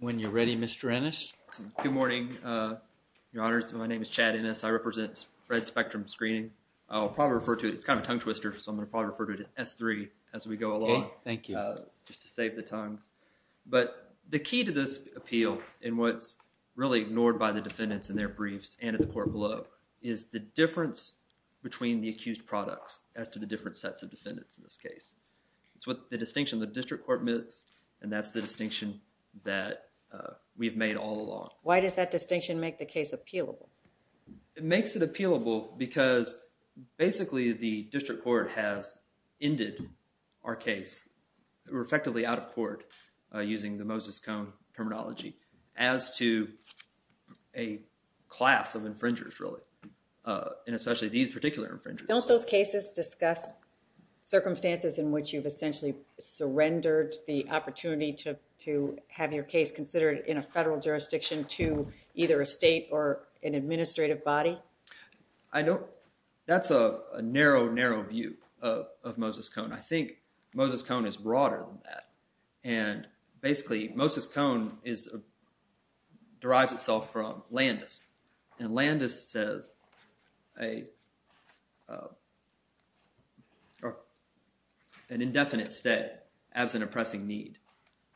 When you're ready Mr. Ennis. Good morning your honors my name is Chad Ennis I represent FRED spectrum screening I'll probably refer to it it's kind of tongue-twister so I'm gonna probably refer to it at s3 as we go along thank you just to save the tongues but the key to this appeal in what's really ignored by the defendants in their briefs and at the court below is the difference between the accused products as to the different sets of defendants in this case it's what the distinction the district court minutes and that's the distinction that we've made all along why does that distinction make the case appealable it makes it appealable because basically the district court has ended our case we're effectively out of court using the Moses Cone terminology as to a class of infringers really and especially these particular infringers don't those cases discuss circumstances in which you've essentially surrendered the opportunity to to have your case considered in a federal jurisdiction to either a state or an administrative body I know that's a narrow narrow view of Moses Cone I think Moses Cone is broader than that and basically Moses Cone is a derives itself from Landis and Landis says a an indefinite stay absent oppressing need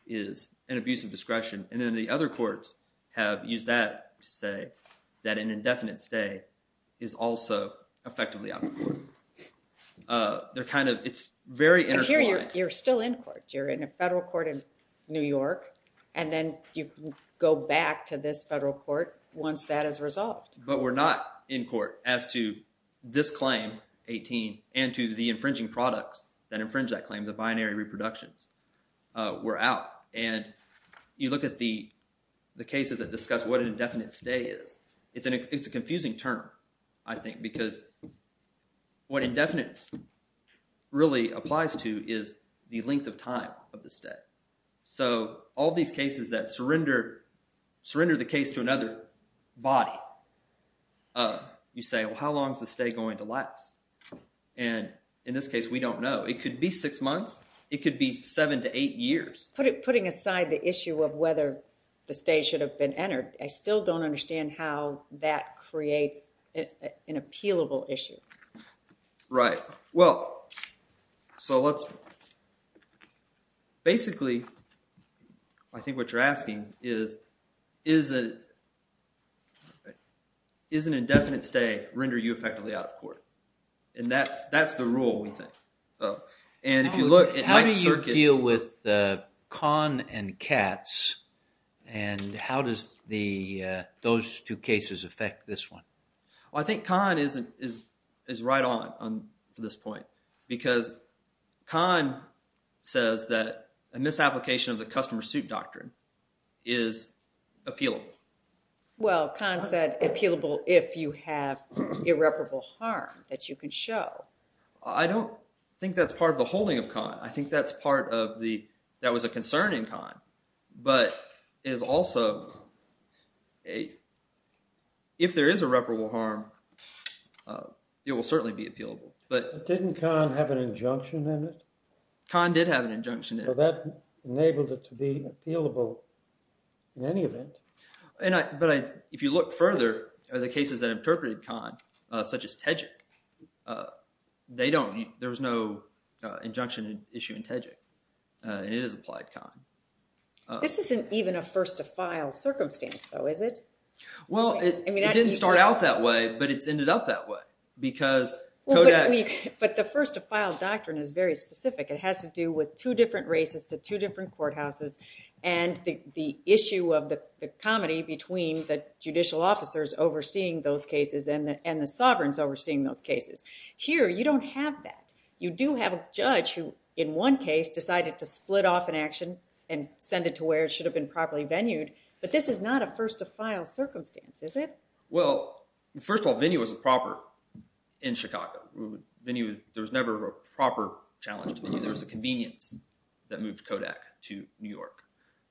is an abuse of discretion and then the other courts have used that say that an indefinite stay is also effectively out of court they're kind of it's very interesting you're still in court you're in a go back to this federal court once that is resolved but we're not in court as to this claim 18 and to the infringing products that infringe that claim the binary reproductions we're out and you look at the the cases that discuss what an indefinite stay is it's an it's a confusing term I think because what indefinites really applies to is the length of time of the stay so all these cases that surrender surrender the case to another body you say how long is the stay going to last and in this case we don't know it could be six months it could be seven to eight years put it putting aside the issue of whether the state should have been entered I still don't understand how that creates an appealable issue right well so let's basically I think what you're asking is is it is an indefinite stay render you effectively out of court and that's that's the rule we think oh and if you look at how do you deal with the con and cats and how does the those two cases affect this one I think con isn't is is right on on this point because con says that a misapplication of the customer suit doctrine is appealable well con said appealable if you have irreparable harm that you can show I don't think that's part of the holding of con I but is also a if there is irreparable harm it will certainly be appealable but didn't con have an injunction in it con did have an injunction that enabled it to be appealable in any event and I but I if you look further are the cases that interpreted con such as Tejik they don't there was no injunction issue in Tejik and it is applied con. This isn't even a first-to-file circumstance though is it? Well it didn't start out that way but it's ended up that way because but the first-to-file doctrine is very specific it has to do with two different races to two different courthouses and the issue of the comedy between the judicial officers overseeing those cases and and the sovereigns overseeing those cases here you don't have that you do have a judge who in one case decided to split off an action and send it to where it should have been properly venued but this is not a first-to-file circumstance is it? Well first of all venue was a proper in Chicago venue there was never a proper challenge there was a convenience that moved Kodak to New York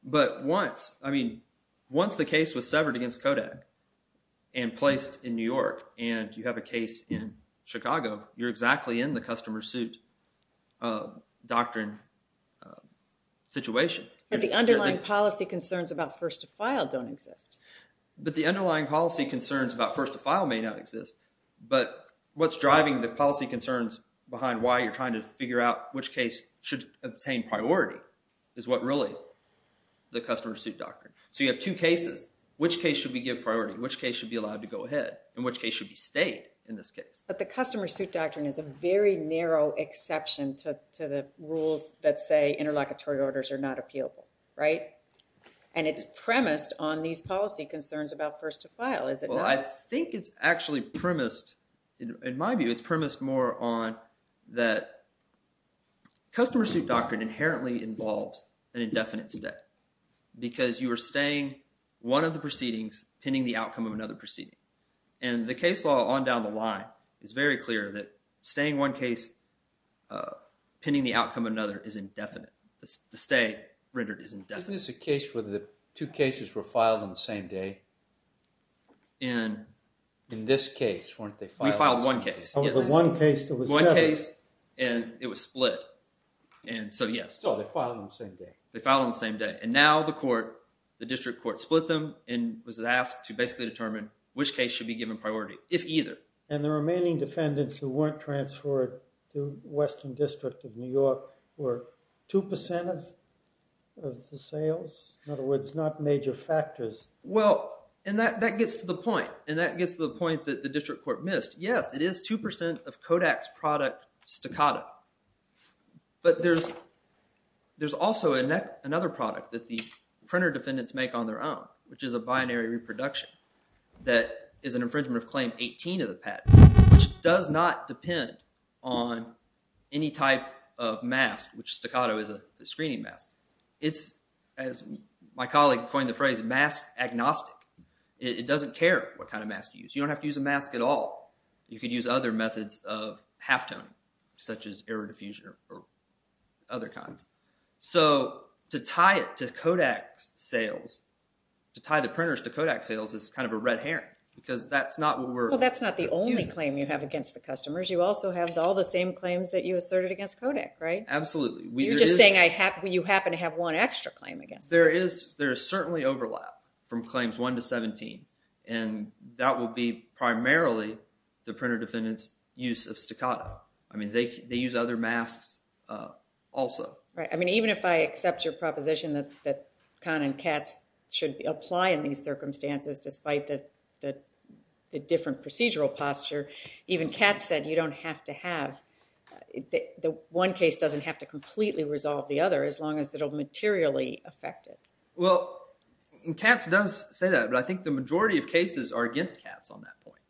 but once I mean once the case was in Chicago you're exactly in the customer suit doctrine situation. The underlying policy concerns about first-to-file don't exist. But the underlying policy concerns about first-to-file may not exist but what's driving the policy concerns behind why you're trying to figure out which case should obtain priority is what really the customer suit doctrine so you have two cases which case should we give priority which case should be allowed to But the customer suit doctrine is a very narrow exception to the rules that say interlocutory orders are not appealable right and it's premised on these policy concerns about first-to-file is it? Well I think it's actually premised in my view it's premised more on that customer suit doctrine inherently involves an indefinite stay because you are staying one of the proceedings pending the is very clear that staying one case pending the outcome another is indefinite. The stay rendered is indefinite. Isn't this a case where the two cases were filed on the same day and in this case weren't they filed one case? One case and it was split and so yes. So they filed on the same day. They filed on the same day and now the court the district court split them and was asked to basically determine which case should be given priority if either. And the remaining defendants who weren't transferred to Western District of New York were 2% of the sales in other words not major factors. Well and that that gets to the point and that gets to the point that the district court missed. Yes it is 2% of Kodak's product staccato but there's there's also a net another product that the printer defendants make on their own which is a binary reproduction that is an infringement of claim 18 of the patent which does not depend on any type of mask which staccato is a screening mask. It's as my colleague coined the phrase mask agnostic. It doesn't care what kind of mask you use. You don't have to use a mask at all. You could use other methods of halftone such as error diffusion or other kinds. So to tie it to Kodak's sales to tie the printers to Kodak sales is kind of a red herring because that's not what we're. Well that's not the only claim you have against the customers. You also have all the same claims that you asserted against Kodak right? Absolutely. You're just saying I happen you happen to have one extra claim against. There is there is certainly overlap from claims 1 to 17 and that will be primarily the printer defendants use of staccato. I mean they use other masks also. Right I mean even if I accept your proposition that that Kahn and Katz should be apply in these circumstances despite that that the different procedural posture even Katz said you don't have to have the one case doesn't have to completely resolve the other as long as it'll materially affect it. Well Katz does say that but I think the majority of cases are against Katz on that point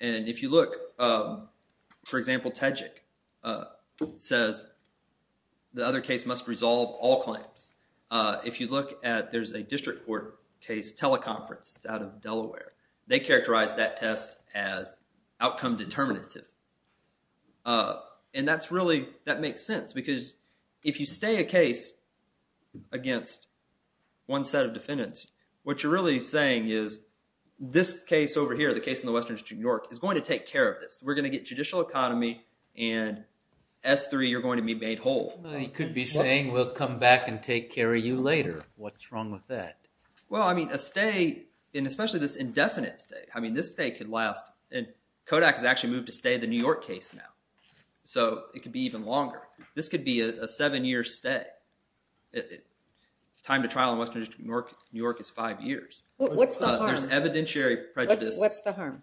and if you look for example Tejik says the other case must resolve all claims. If you look at there's a district court case teleconference it's out of Delaware. They characterize that test as outcome determinative and that's really that makes sense because if you stay a case against one set of defendants what you're really saying is this case over here the case in the Western District of New York is five years. What's the harm? There's evidentiary prejudice. What's the harm?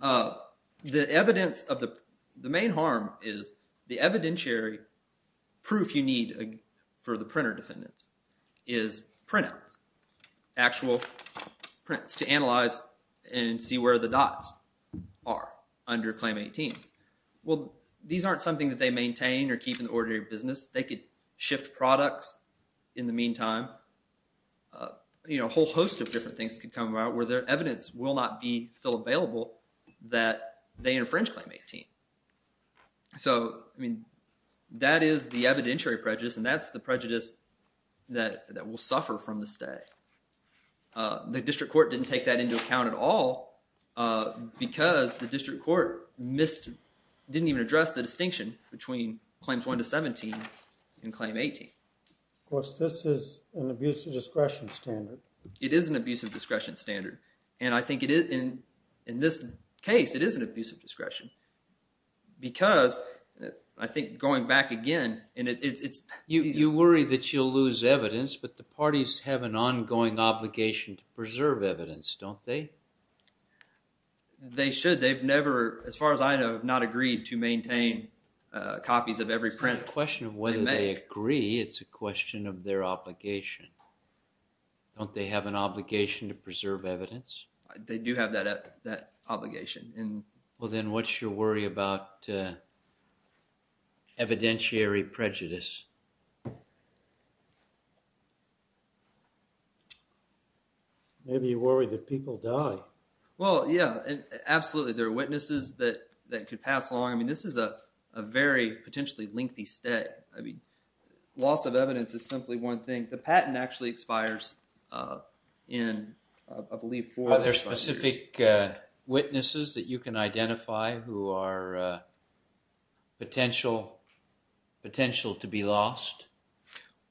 The evidence of the the main harm is the evidentiary proof you need for the printer defendants is printouts. Actual prints to analyze and see where the dots are under Claim 18. Well these aren't something that they maintain or keep in the ordinary business. They could shift products in the meantime you know a whole host of different things could come about where their evidence will not be still available that they infringe Claim 18. So I mean that is the evidentiary prejudice and that's the prejudice that that will suffer from the stay. The district court didn't take that into account at all because the district court missed didn't even address the distinction between Claims 1 to 17 and Claim 18. Of course this is an abuse of discretion standard. It is an abuse of in this case it is an abuse of discretion because I think going back again and it's. You worry that you'll lose evidence but the parties have an ongoing obligation to preserve evidence don't they? They should they've never as far as I know not agreed to maintain copies of every print. It's not a question of whether they agree it's a question of their obligation. Don't they have an obligation to preserve evidence? They do have that obligation. Well then what's your worry about evidentiary prejudice? Maybe you worry that people die. Well yeah absolutely there are witnesses that that could pass along. I mean this is a very potentially lengthy stay. I mean loss of evidence is simply one thing. The patent actually expires in I believe four or five years. Are there specific witnesses that you can identify who are potential potential to be lost?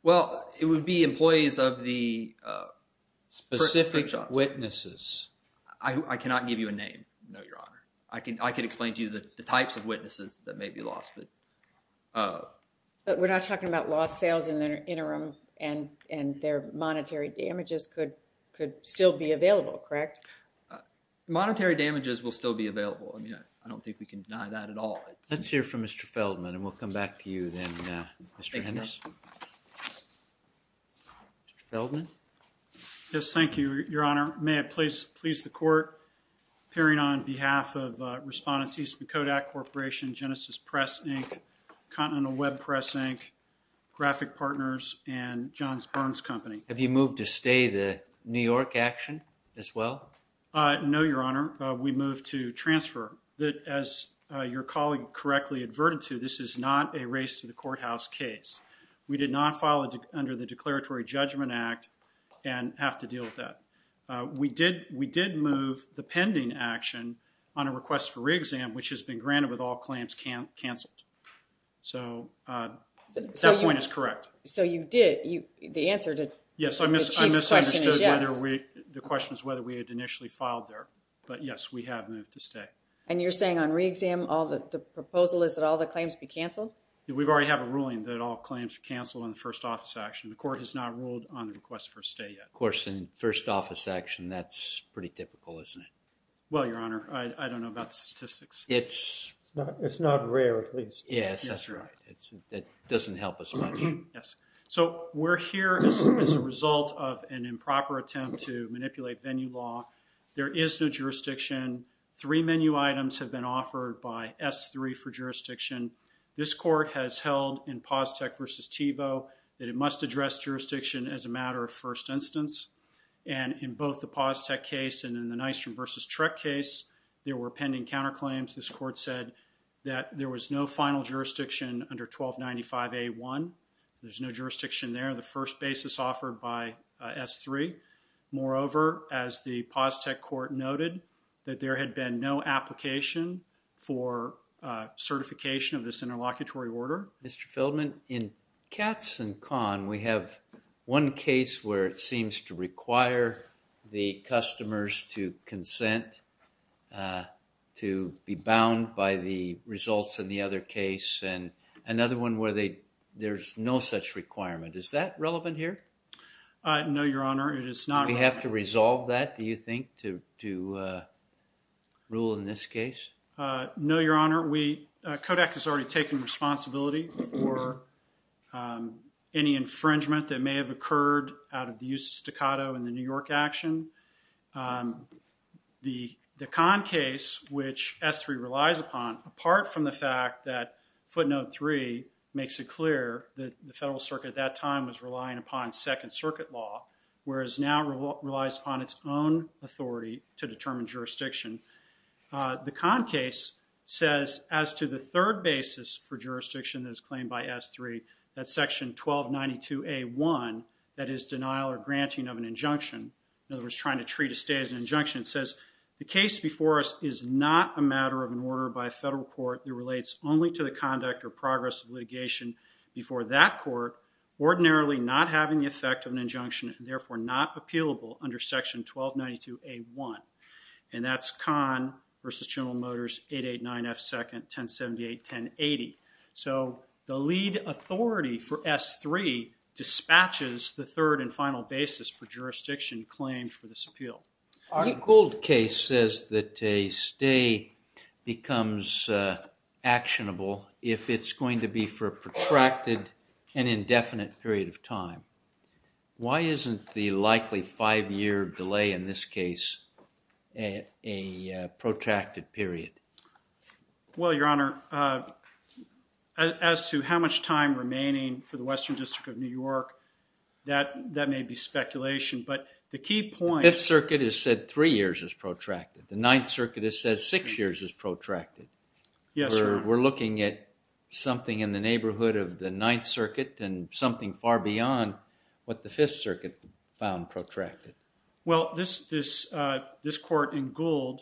Well it would be employees of the specific witnesses. I cannot give you a name no your honor. I can I could explain to you the types of witnesses that may be lost. But we're not talking about lost sales in their interim and and their monetary damages could could still be available correct? Monetary damages will still be available. I mean I don't think we can deny that at all. Let's hear from Mr. Feldman and we'll come back to you then Mr. Henderson. Mr. Feldman? Yes thank you your honor. May it please please the court appearing on behalf of respondents Eastman Kodak Corporation, Genesis Press Inc., Continental Web Press Inc., Graphic Partners and Johns Burns Company. Have you moved to stay the New York action as well? No your honor. We moved to transfer. That as your colleague correctly adverted to this is not a race to the courthouse case. We did not file it under the Declaratory Judgment Act and have to deal with that. We did we did move the pending action on a request for re-exam which has been granted with all claims canceled. So that point is correct. So you did you the answer to yes I miss I miss whether we the question is whether we had initially filed there. But yes we have moved to stay. And you're saying on re-exam all the proposal is that all the claims be canceled? We've already have a ruling that all claims are canceled on the first office action. The court has not ruled on the request for a stay yet. Of course in first office action that's pretty typical isn't it? Well your honor I don't know about statistics. It's it's not rare at least. Yes that's right. It doesn't help us much. Yes so we're here as a result of an improper attempt to manipulate venue law. There is no jurisdiction. Three menu items have been offered by S3 for jurisdiction. This court has held in Paztec versus Tevo that it must address jurisdiction as a Paztec case and in the Nystrom versus Trek case there were pending counter claims. This court said that there was no final jurisdiction under 1295A1. There's no jurisdiction there. The first basis offered by S3. Moreover as the Paztec court noted that there had been no application for certification of this interlocutory order. Mr. Feldman in Katz and Kahn we have one case where it seems to require the customers to consent to be bound by the results in the other case and another one where they there's no such requirement. Is that relevant here? No your honor it is not. We have to resolve that do you think to to rule in this case? No your honor we Kodak has already taken responsibility for any infringement that may have occurred out of the use of staccato in the New York action. The Kahn case which S3 relies upon apart from the fact that footnote three makes it clear that the Federal Circuit at that time was relying upon Second Circuit law whereas now relies upon its own authority to determine jurisdiction. The Kahn case says as to the third basis for jurisdiction that is 1292A1 that is denial or granting of an injunction in other words trying to treat a stay as an injunction says the case before us is not a matter of an order by a federal court that relates only to the conduct or progress of litigation before that court ordinarily not having the effect of an injunction and therefore not appealable under section 1292A1 and that's Kahn versus S3 dispatches the third and final basis for jurisdiction claimed for this appeal. Our Gould case says that a stay becomes actionable if it's going to be for a protracted and indefinite period of time. Why isn't the likely five-year delay in this case a protracted period? Well your honor as to how much time remaining for the Western District of New York that that may be speculation but the key point The Fifth Circuit has said three years is protracted. The Ninth Circuit says six years is protracted. Yes sir. We're looking at something in the neighborhood of the Ninth Circuit and something far beyond what the Fifth Circuit found protracted. Well this this this court in Gould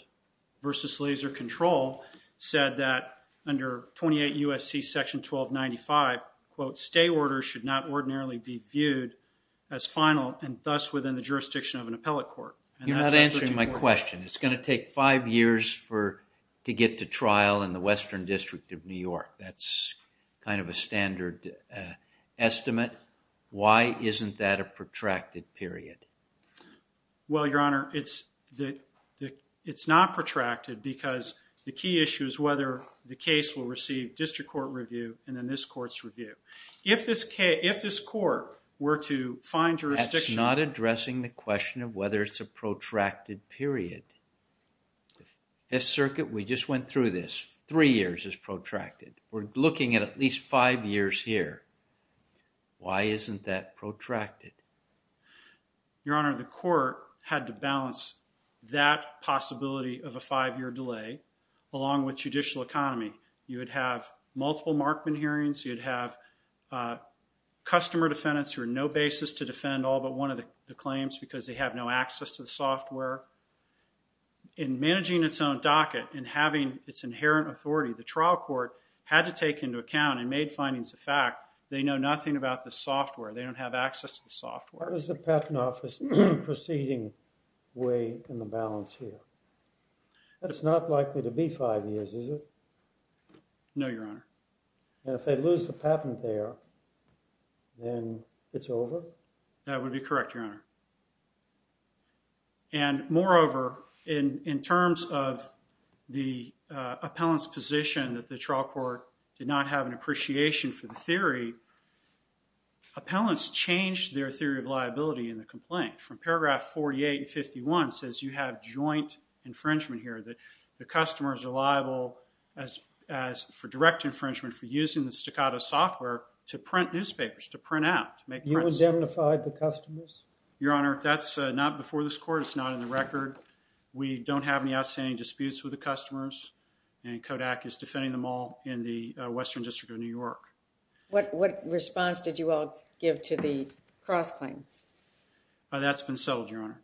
versus Laser Control said that under 28 USC section 1295 quote stay orders should not ordinarily be viewed as final and thus within the jurisdiction of an appellate court. You're not answering my question. It's going to take five years for to get to trial in the Western District of New York. That's kind of a standard estimate. Why isn't that a protracted period? Well your honor it's the it's not protracted because the key issue is whether the case will receive district court review and then this court's review. If this case if this court were to find jurisdiction. That's not addressing the question of whether it's a protracted period. Fifth Circuit we just went through this. Three years is protracted. We're looking at at least five years here. Why isn't that protracted? Your honor the court had to with judicial economy. You would have multiple Markman hearings. You'd have customer defendants who are no basis to defend all but one of the claims because they have no access to the software. In managing its own docket and having its inherent authority the trial court had to take into account and made findings of fact. They know nothing about the software. They don't have access to the software. What is the patent office proceeding way in the balance here? It's not likely to be five years is it? No your honor. And if they lose the patent there then it's over? That would be correct your honor and moreover in in terms of the appellants position that the trial court did not have an appreciation for the theory. Appellants changed their theory of liability in the complaint from paragraph 48 and 51 says you have joint infringement here that the customers are liable as for direct infringement for using the staccato software to print newspapers to print out. You indemnified the customers? Your honor that's not before this court. It's not in the record. We don't have any outstanding disputes with the customers and Kodak is defending them all in the Western District of New York. What response did you all give to the cross claim? That's been settled your honor.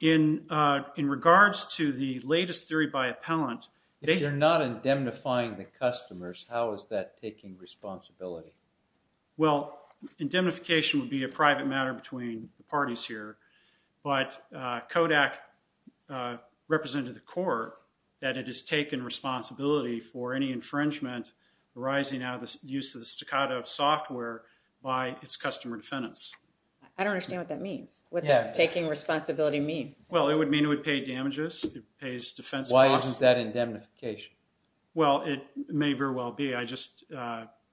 In in regards to the latest theory by appellant. If you're not indemnifying the customers how is that taking responsibility? Well indemnification would be a private matter between the parties here but Kodak represented the court that it has taken responsibility for any infringement arising out of the use of the staccato software by its customer defendants. I don't understand what that means. What's taking responsibility mean? Well it would mean it would pay damages. It pays defense. Why isn't that indemnification? Well it may very well be. I just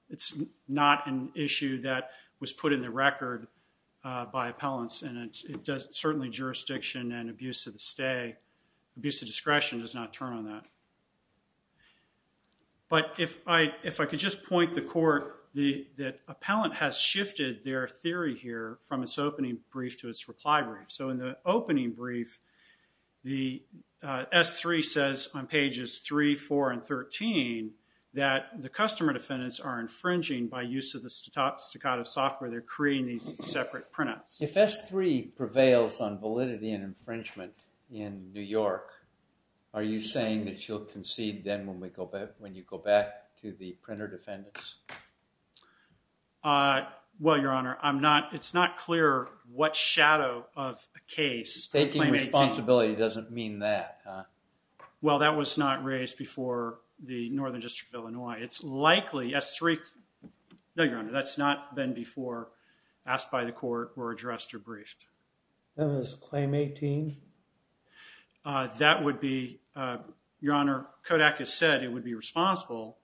it's not an issue that was put in the record by appellants and it does certainly jurisdiction and use of the stay abuse of discretion does not turn on that. But if I if I could just point the court the that appellant has shifted their theory here from its opening brief to its reply brief. So in the opening brief the s3 says on pages 3, 4, and 13 that the customer defendants are infringing by use of the staccato software they're creating these separate printouts. If s3 prevails on validity and infringement in New York are you saying that you'll concede then when we go back when you go back to the printer defendants? Well your honor I'm not it's not clear what shadow of a case. Taking responsibility doesn't mean that. Well that was not raised before the Northern District of Illinois. It's likely s3 no your honor that's not been before asked by the court or addressed or briefed. Then is claim 18? That would be your honor Kodak has said it would be responsible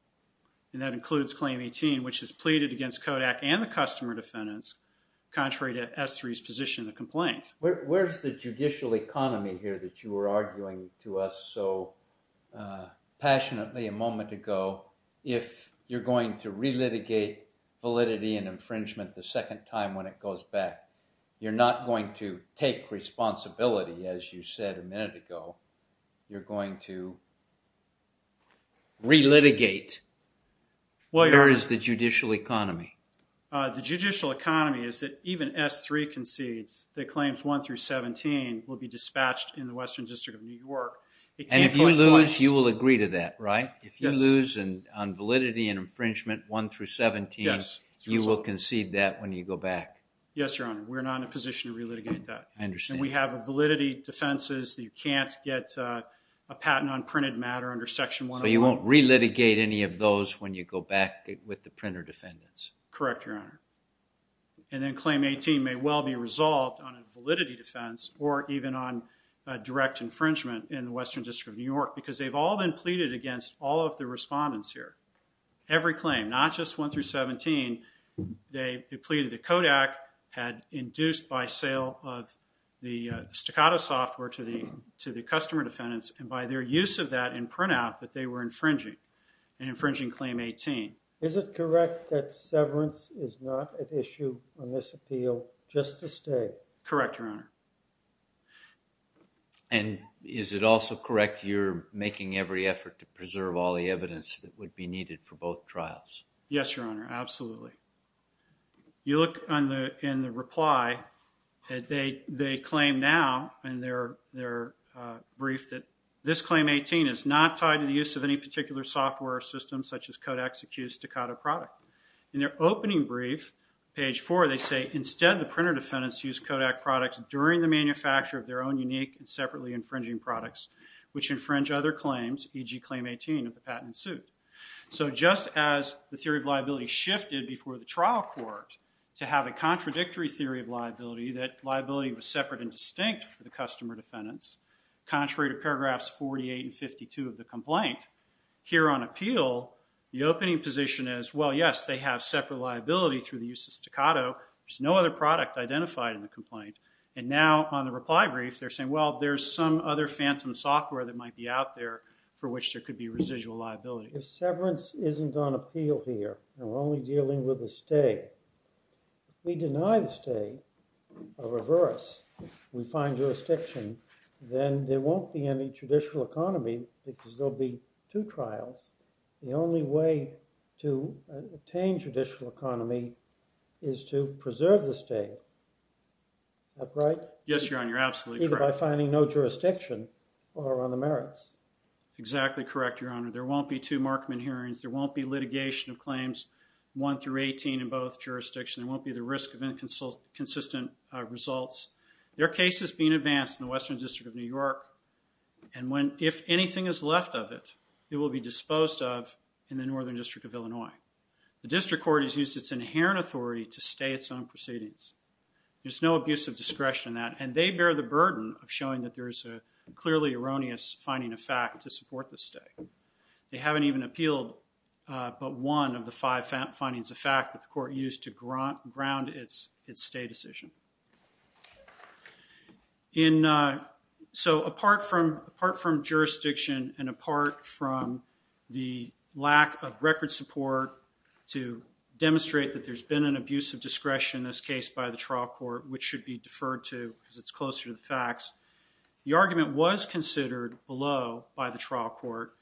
and that includes claim 18 which is pleaded against Kodak and the customer defendants contrary to s3's position the complaint. Where's the judicial economy here that you were arguing to us so passionately a moment ago if you're going to relitigate validity and infringement the second time when it goes back you're not going to take responsibility as you said a minute ago you're going to relitigate. Where is the judicial economy? The judicial economy is that even s3 concedes that claims 1 through 17 will be dispatched in the Western District of New York. And if you lose you will agree to that right? If you lose and on You will concede that when you go back? Yes your honor we're not in a position to relitigate that. I understand. We have a validity defenses you can't get a patent on printed matter under section 101. You won't relitigate any of those when you go back with the printer defendants? Correct your honor. And then claim 18 may well be resolved on a validity defense or even on direct infringement in the Western District of New York because they've all been pleaded against all of the respondents here. Every claim not just 1 through 17 they depleted the Kodak had induced by sale of the staccato software to the to the customer defendants and by their use of that in print out that they were infringing an infringing claim 18. Is it correct that severance is not an issue on this appeal just to stay? Correct your honor. And is it also correct you're making every effort to preserve all the evidence that would be needed for both trials? Yes your honor absolutely. You look on the in the reply that they they claim now and they're they're briefed that this claim 18 is not tied to the use of any particular software system such as Kodak's accused staccato product. In their opening brief page 4 they say instead the printer defendants use Kodak products during the manufacture of their own unique and separately infringing products which infringe other claims e.g. claim 18 of the patent suit. So just as the theory of liability shifted before the trial court to have a contradictory theory of liability that liability was separate and distinct for the customer defendants contrary to paragraphs 48 and 52 of the complaint here on appeal the opening position is well yes they have separate liability through the use of staccato there's no other product identified in the complaint and now on the reply brief they're saying well there's some other phantom software that might be out there for which there could be residual liability. If severance isn't on appeal here and we're only dealing with the state we deny the state a reverse we find jurisdiction then there won't be any judicial economy because there'll be two trials the only way to obtain judicial economy is to preserve the state. That right? Yes your honor you're either by finding no jurisdiction or on the merits. Exactly correct your honor there won't be two Markman hearings there won't be litigation of claims 1 through 18 in both jurisdictions won't be the risk of inconsistent results. There are cases being advanced in the Western District of New York and when if anything is left of it it will be disposed of in the Northern District of Illinois. The district court has used its inherent authority to stay its own burden of showing that there is a clearly erroneous finding a fact to support the state. They haven't even appealed but one of the five found findings the fact that the court used to grant ground its its state decision. In so apart from apart from jurisdiction and apart from the lack of record support to demonstrate that there's been an abuse of discretion in this case by the trial court which should be deferred to because it's closer to the facts. The argument was considered below by the trial court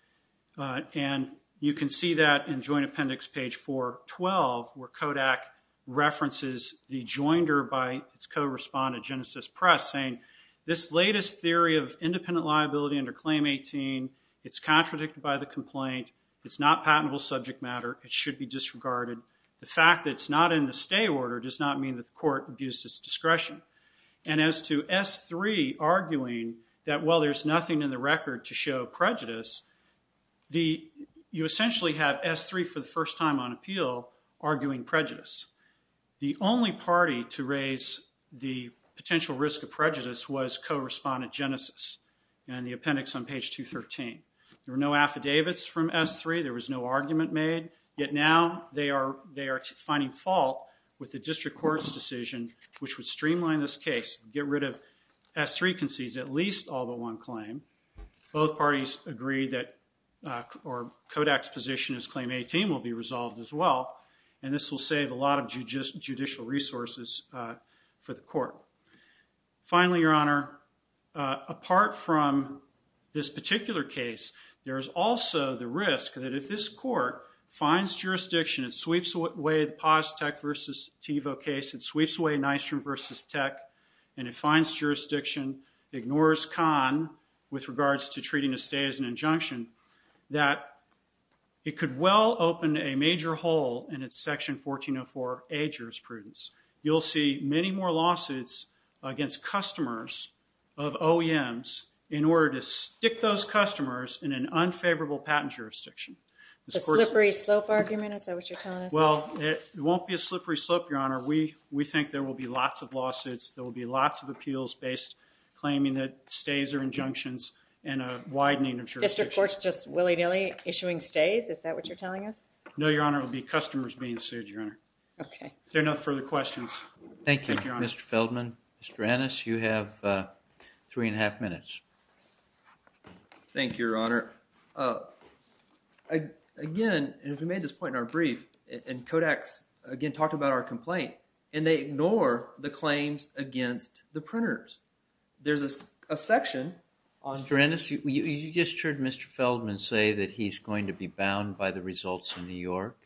and you can see that in joint appendix page 412 where Kodak references the joinder by its co-respondent Genesis Press saying this latest theory of independent liability under claim 18 it's contradicted by the complaint it's not patentable subject matter it should be disregarded the fact that it's not in the stay order does not mean that the court abuses discretion and as to s3 arguing that well there's nothing in the record to show prejudice the you essentially have s3 for the first time on appeal arguing prejudice the only party to raise the potential risk of prejudice was co-respondent Genesis and the appendix on page 213 there were no affidavits from s3 there was no argument made yet now they are finding fault with the district court's decision which would streamline this case get rid of s3 concedes at least all but one claim both parties agreed that or Kodak's position is claim 18 will be resolved as well and this will save a lot of judicial resources for the court finally your honor apart from this particular case there is also the risk that if this court finds jurisdiction it way the pause tech versus Tevo case it sweeps away nice room versus tech and it finds jurisdiction ignores con with regards to treating a stay as an injunction that it could well open a major hole in its section 1404 a jurisprudence you'll see many more lawsuits against customers of OEMs in order to stick those customers in an unfavorable patent jurisdiction the won't be a slippery slope your honor we we think there will be lots of lawsuits there will be lots of appeals based claiming that stays are injunctions and a widening of just reports just willy-nilly issuing stays is that what you're telling us no your honor will be customers being sued your honor okay they're not further questions thank you mr. Feldman mr. Ennis you have three and a half minutes thank your honor again if we made this point in our brief and Kodak's again talked about our complaint and they ignore the claims against the printers there's a section on Drenna see you just heard mr. Feldman say that he's going to be bound by the results in New York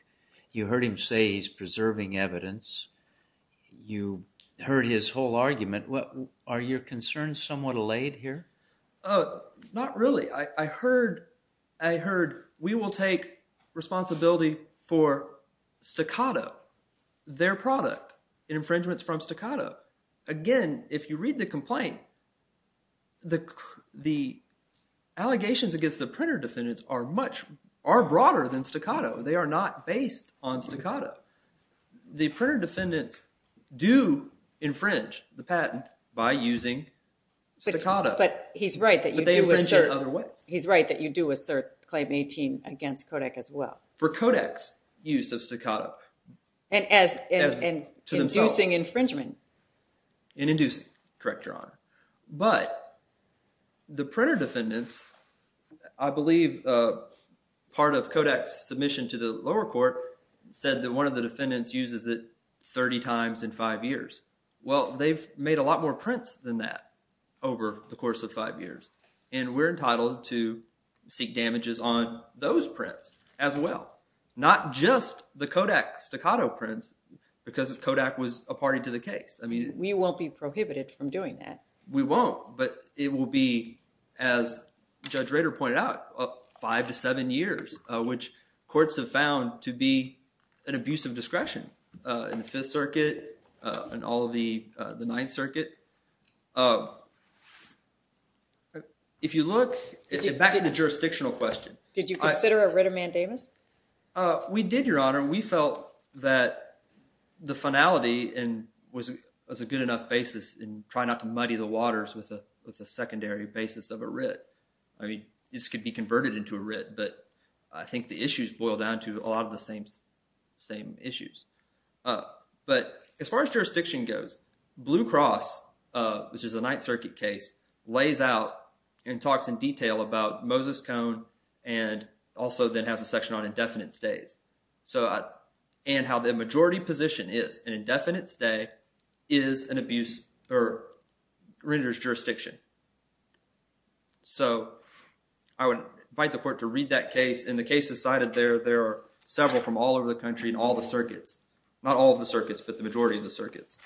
you heard him say he's preserving evidence you heard his whole argument what are your concerns somewhat allayed here oh not really I heard I heard we will take responsibility for staccato their product infringements from staccato again if you read the complaint the the allegations against the printer defendants are much are broader than staccato they are not based on staccato the printer defendants do infringe the patent by using staccato but he's right that you do insert otherwise he's right that you do assert claim 18 against Kodak as well for Kodak's use of staccato and as to themselves thing infringement in inducing correct your honor but the printer defendants I believe part of Kodak's submission to the lower court said that one of the defendants uses it 30 times in five years well they've made a lot more prints than that over the course of five years and we're entitled to seek damages on those prints as well not just the Kodak staccato prints because Kodak was a party to the case I mean we won't be prohibited from doing that we won't but it will be as Judge Rader pointed out five to seven years which courts have found to be an abuse of discretion in the Fifth Circuit and all of the the jurisdictional question did you consider a writ of mandamus we did your honor we felt that the finality and was it was a good enough basis and try not to muddy the waters with a with a secondary basis of a writ I mean this could be converted into a writ but I think the issues boil down to a lot of the same same issues but as far as jurisdiction goes Blue Cross which is a detail about Moses Cone and also then has a section on indefinite stays so I and how the majority position is an indefinite stay is an abuse or renders jurisdiction so I would invite the court to read that case in the cases cited there there are several from all over the country and all the circuits not all of the circuits but the majority of the circuits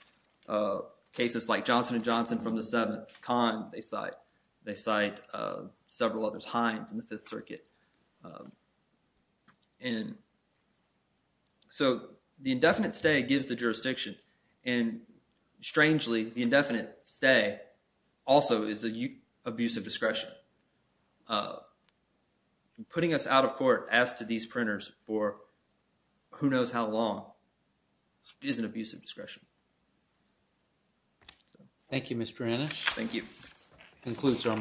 cases like Johnson & Johnson from the seventh con they cite they cite several other times in the Fifth Circuit and so the indefinite stay gives the jurisdiction and strangely the indefinite stay also is a you abuse of discretion putting us out of court as to these printers for who knows how long is an abuse of discretion thank you mr. Ennis thank you concludes our morning